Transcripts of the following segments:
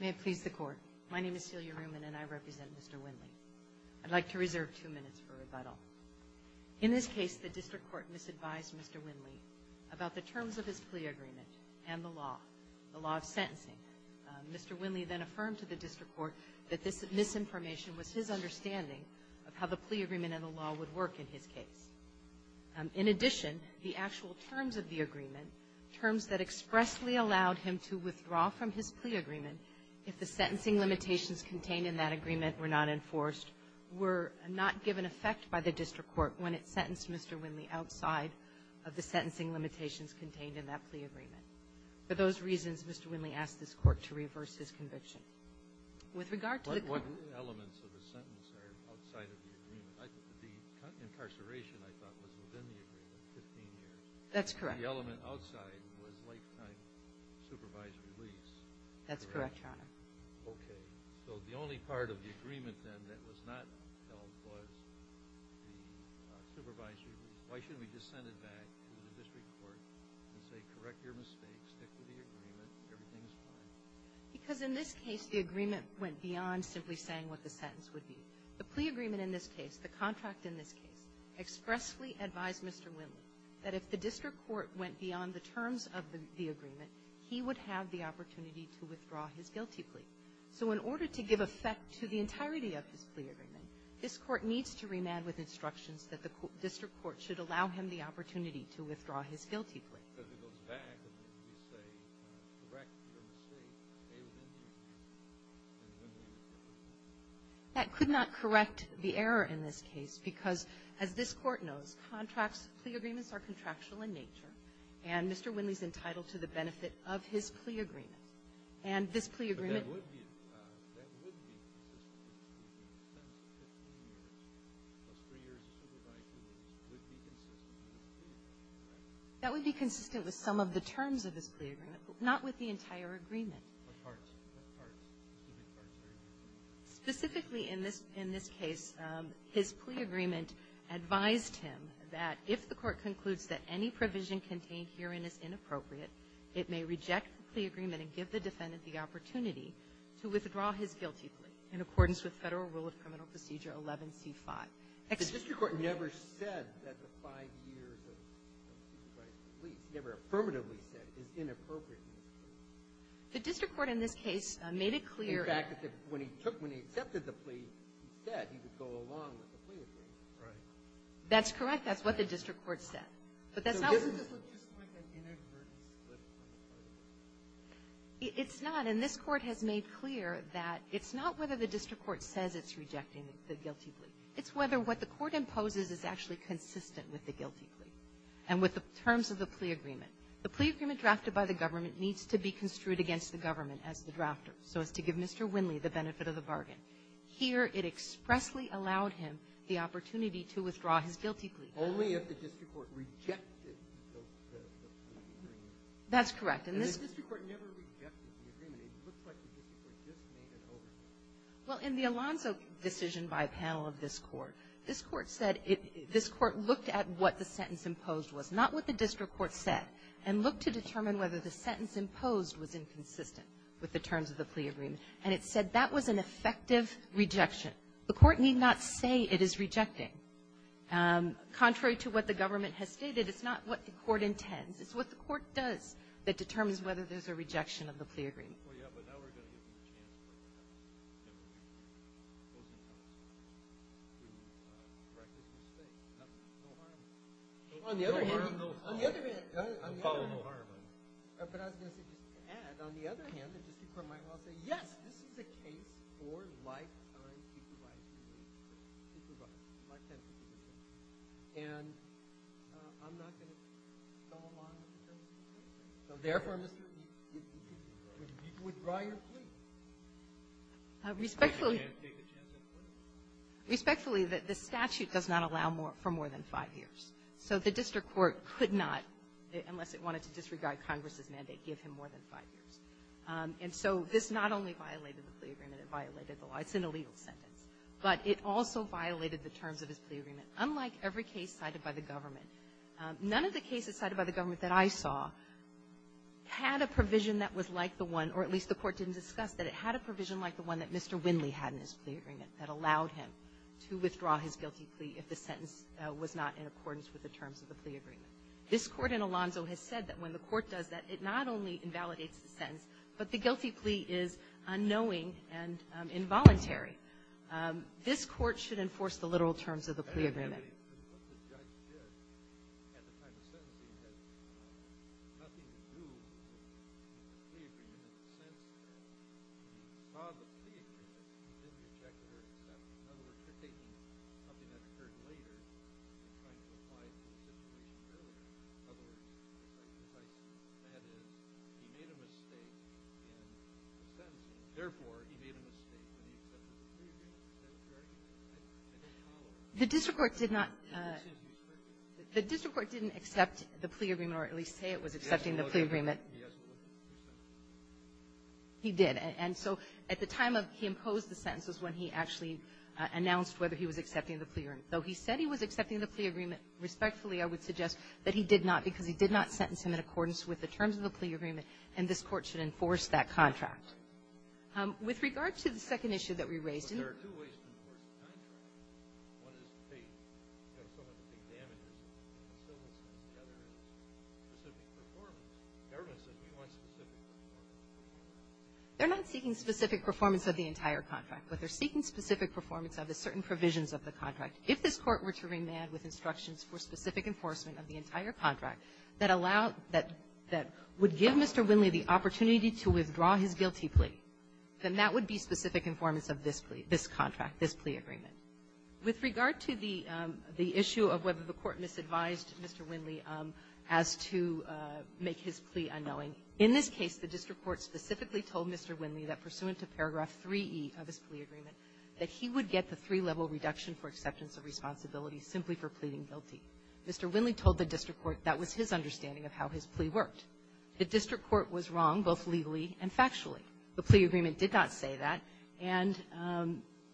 May it please the Court. My name is Celia Ruman and I represent Mr. Windley. I'd like to reserve two minutes for rebuttal. In this case, the District Court misadvised Mr. Windley about the terms of his plea agreement and the law, the law of sentencing. Mr. Windley then affirmed to the District Court that this misinformation was his understanding of how the plea agreement and the law would work in his case. In addition, the actual terms of the agreement, terms that expressly allowed him to withdraw from his plea agreement if the sentencing limitations contained in that agreement were not enforced, were not given effect by the District Court when it sentenced Mr. Windley outside of the sentencing limitations contained in that plea agreement. For those reasons, Mr. Windley asked this Court to reverse his conviction. With regard to the What elements of the sentence are outside of the agreement? I think the incarceration, I thought, was within the agreement, 15 years. That's correct. The element outside was lifetime supervised release. That's correct, Your Honor. Okay. So the only part of the agreement, then, that was not held was the supervisory. Why shouldn't we just send it back to the District Court and say, correct your mistakes, stick to the agreement, everything is fine? Because in this case, the agreement went beyond simply saying what the sentence would be. The plea agreement in this case, the contract in this case, expressly advised Mr. Windley that if the District Court went beyond the terms of the agreement, he would have the opportunity to withdraw his guilty plea. So in order to give effect to the entirety of his plea agreement, this Court needs to remand with instructions that the District Court should allow him the opportunity to withdraw his guilty plea. Because it goes back to when you say, correct your mistakes, they were in the agreement, and Windley withdrew his guilty plea. That could not correct the error in this case because, as this Court knows, contracts, plea agreements are contractual in nature, and Mr. Windley is entitled to the benefit of his plea agreement. And this plea agreement But that would be, that would be a three-year supervised release. That would be consistent with some of the terms of his plea agreement, but not with the entire agreement. What parts, what parts, did the courts agree to? Specifically in this, in this case, his plea agreement advised him that if the Court concludes that any provision contained herein is inappropriate, it may reject the plea agreement and give the defendant the opportunity to withdraw his guilty plea in accordance with Federal Rule of Criminal Procedure 11C5. The District Court never said that the five years of supervised release, never affirmatively said, is inappropriate in this case. The District Court, in this case, made it clear In fact, when he took, when he accepted the plea, he said he would go along with the plea agreement. That's correct. That's what the District Court said. But that's not So doesn't this look just like an inadvertent split on the part of the District Court? It's not, and this Court has made clear that it's not whether the District Court says it's rejecting the guilty plea. It's whether what the Court imposes is actually consistent with the guilty plea and with the terms of the plea agreement. The plea agreement drafted by the government needs to be construed against the government as the drafter, so as to give Mr. Winley the benefit of the bargain. Here, it expressly allowed him the opportunity to withdraw his guilty plea. Only if the District Court rejected the plea agreement. That's correct. And the District Court never rejected the agreement. It looks like the District Court just made an oversight. Well, in the Alonzo decision by a panel of this Court, this Court said it, this Court looked at what the sentence imposed was, not what the District Court said, and looked to determine whether the sentence imposed was inconsistent with the terms of the plea agreement, and it said that was an effective rejection. The Court need not say it is rejecting. Contrary to what the government has stated, it's not what the Court intends. It's what the Court does that determines whether there's a rejection of the plea agreement. Well, yeah, but now we're going to give you a chance to correct this mistake. No harm. No harm, no fault. I'm following the harm. But I was going to say, just to add, on the other hand, the District Court might well say, yes, this is a case for lifetime supervision. Supervised. Lifetime supervision. And I'm not going to stall on Mr. Winley. So therefore, Mr. Winley, withdraw your plea. Respectfully. You can't take a chance at a plea. Respectfully, the statute does not allow for more than five years. So the District Court could not, unless it wanted to disregard Congress's mandate, give him more than five years. And so this not only violated the plea agreement, it violated the law. It's an illegal sentence. But it also violated the terms of his plea agreement. Unlike every case cited by the government, none of the cases cited by the government that I saw had a provision that was like the one, or at least the Court didn't discuss, that it had a provision like the one that Mr. Winley had in his plea agreement that allowed him to withdraw his guilty plea if the sentence was not in accordance with the terms of the plea agreement. This Court in Alonzo has said that when the Court does that, it not only invalidates the sentence, but the guilty plea is unknowing and involuntary. This Court should enforce the literal terms of the plea agreement. The judge did, at the time of sentencing, had nothing to do with the plea agreement in the sense that he probably didn't reject your sentence. In other words, you're taking something that occurred later and trying to apply it to the plea agreement earlier. In other words, you're trying to say that he made a mistake in the sentence. Therefore, he made a mistake when he accepted the plea agreement. Is that correct? The district court did not – the district court didn't accept the plea agreement or at least say it was accepting the plea agreement. He did. And so at the time of he imposed the sentence was when he actually announced whether he was accepting the plea agreement. Though he said he was accepting the plea agreement, respectfully, I would suggest that he did not because he did not sentence him in accordance with the terms of the plea agreement, and this Court should enforce that contract. With regard to the second issue that we raised – But there are two ways to enforce a contract. One is to pay – you have someone to pay damages, but you still want to see together specific performance. The government says we want specific performance. They're not seeking specific performance of the entire contract, but they're seeking specific performance of the certain provisions of the contract. If this Court were to remand with instructions for specific enforcement of the entire contract that allow – that would give Mr. Winley the opportunity to withdraw his guilty plea, then that would be specific informants of this plea – this contract, this plea agreement. With regard to the issue of whether the Court misadvised Mr. Winley as to make his plea unknowing, in this case, the district court specifically told Mr. Winley that pursuant to paragraph 3E of his plea agreement that he would get the three-level reduction for acceptance of responsibility simply for pleading guilty. Mr. Winley told the district court that was his understanding of how his plea worked. The district court was wrong both legally and factually. The plea agreement did not say that, and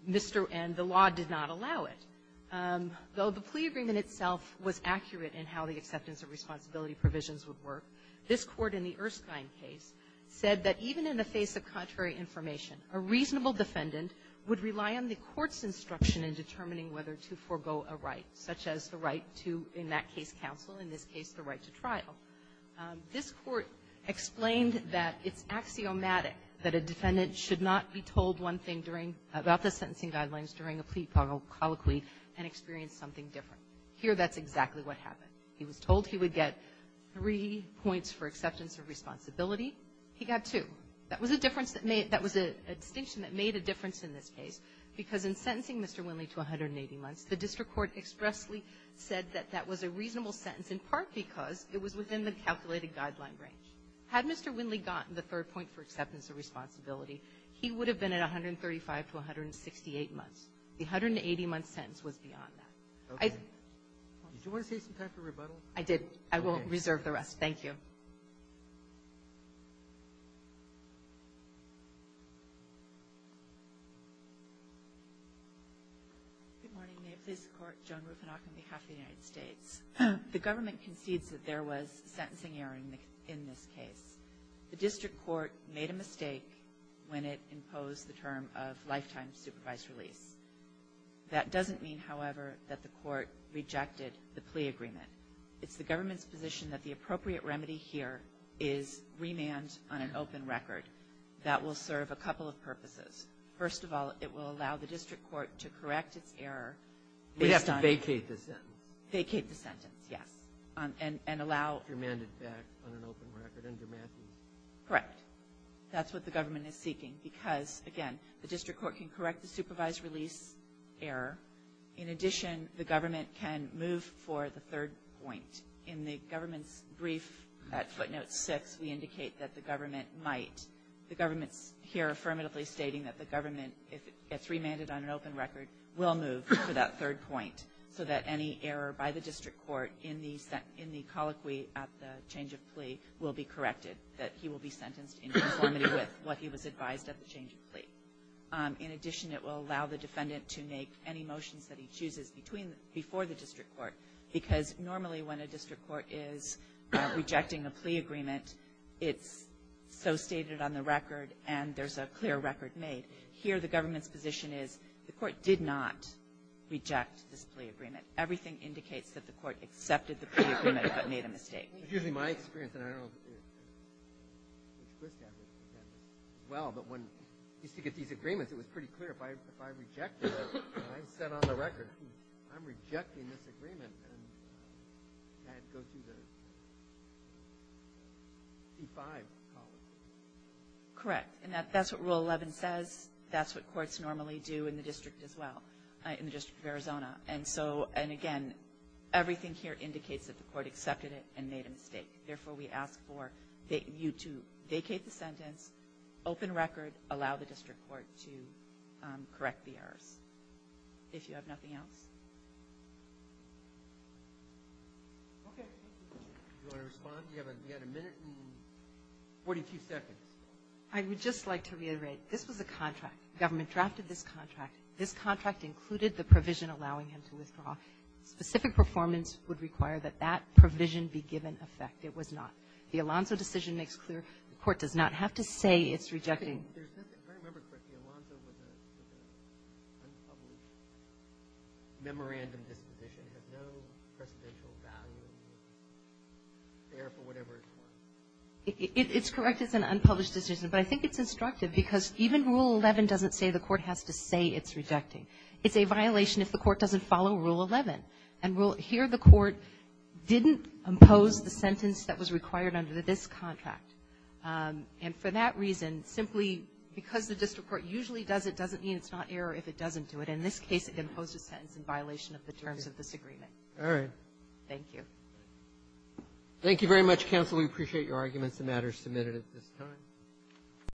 Mr. – and the law did not allow it. Though the plea agreement itself was accurate in how the acceptance of responsibility provisions would work, this Court in the Erskine case said that even in the face of contrary information, a reasonable defendant would rely on the court's instruction in determining whether to forego a right, such as the right to, in that case, counsel, in this case, the right to trial. This Court explained that it's axiomatic that a defendant should not be told one thing during – about the sentencing guidelines during a plea colloquy and experience something different. Here, that's exactly what happened. He was told he would get three points for acceptance of responsibility. He got two. That was a difference that made – that was a distinction that made a difference in this case, because in sentencing Mr. Winley to 180 months, the district court expressly said that that was a reasonable sentence, in part because it was within the calculated guideline range. Had Mr. Winley gotten the third point for acceptance of responsibility, he would have been at 135 to 168 months. The 180-month sentence was beyond that. I think – Do you want to say some kind of a rebuttal? Good morning. May it please the Court. Joan Rupinach on behalf of the United States. The government concedes that there was sentencing error in this case. The district court made a mistake when it imposed the term of lifetime supervised release. That doesn't mean, however, that the court rejected the plea agreement. It's the government's position that the appropriate remedy here is remand on an open record. That will serve a couple of purposes. First of all, it will allow the district court to correct its error based on – We'd have to vacate the sentence. Vacate the sentence, yes. And allow – Remand it back on an open record, under Matthews. Correct. That's what the government is seeking. Because, again, the district court can correct the supervised release error. In addition, the government can move for the third point. In the government's brief at footnote six, we indicate that the government might – The government's here affirmatively stating that the government, if it gets remanded on an open record, will move for that third point. So that any error by the district court in the colloquy at the change of plea will be corrected. That he will be sentenced in conformity with what he was advised at the change of plea. In addition, it will allow the defendant to make any motions that he chooses between – before the district court. Because normally when a district court is rejecting a plea agreement, it's so stated on the record, and there's a clear record made. Here, the government's position is the court did not reject this plea agreement. Everything indicates that the court accepted the plea agreement but made a mistake. It's usually my experience, and I don't know if Chris has this as well, but when I used to get these agreements, it was pretty clear. If I rejected it, I said on the record, I'm rejecting this agreement. And I had to go through the E-5 column. Correct. And that's what Rule 11 says. That's what courts normally do in the district as well, in the District of Arizona. And so – and again, everything here indicates that the court accepted it and made a mistake. Therefore, we ask for you to vacate the sentence, open record, allow the district court to correct the errors. If you have nothing else. Okay. Do you want to respond? You have a minute and 42 seconds. I would just like to reiterate, this was a contract. The government drafted this contract. This contract included the provision allowing him to withdraw. Specific performance would require that that provision be given effect. It was not. The Alonzo decision makes clear the court does not have to say it's rejecting. If I remember correctly, Alonzo was an unpublished memorandum disposition. It had no precedential value there for whatever it was. It's correct it's an unpublished decision. But I think it's instructive because even Rule 11 doesn't say the court has to say it's rejecting. It's a violation if the court doesn't follow Rule 11. And here the court didn't impose the sentence that was required under this contract. And for that reason, simply because the district court usually does it doesn't mean it's not error if it doesn't do it. In this case, it imposed a sentence in violation of the terms of this agreement. All right. Thank you. Thank you very much, counsel. We appreciate your arguments and matters submitted at this time.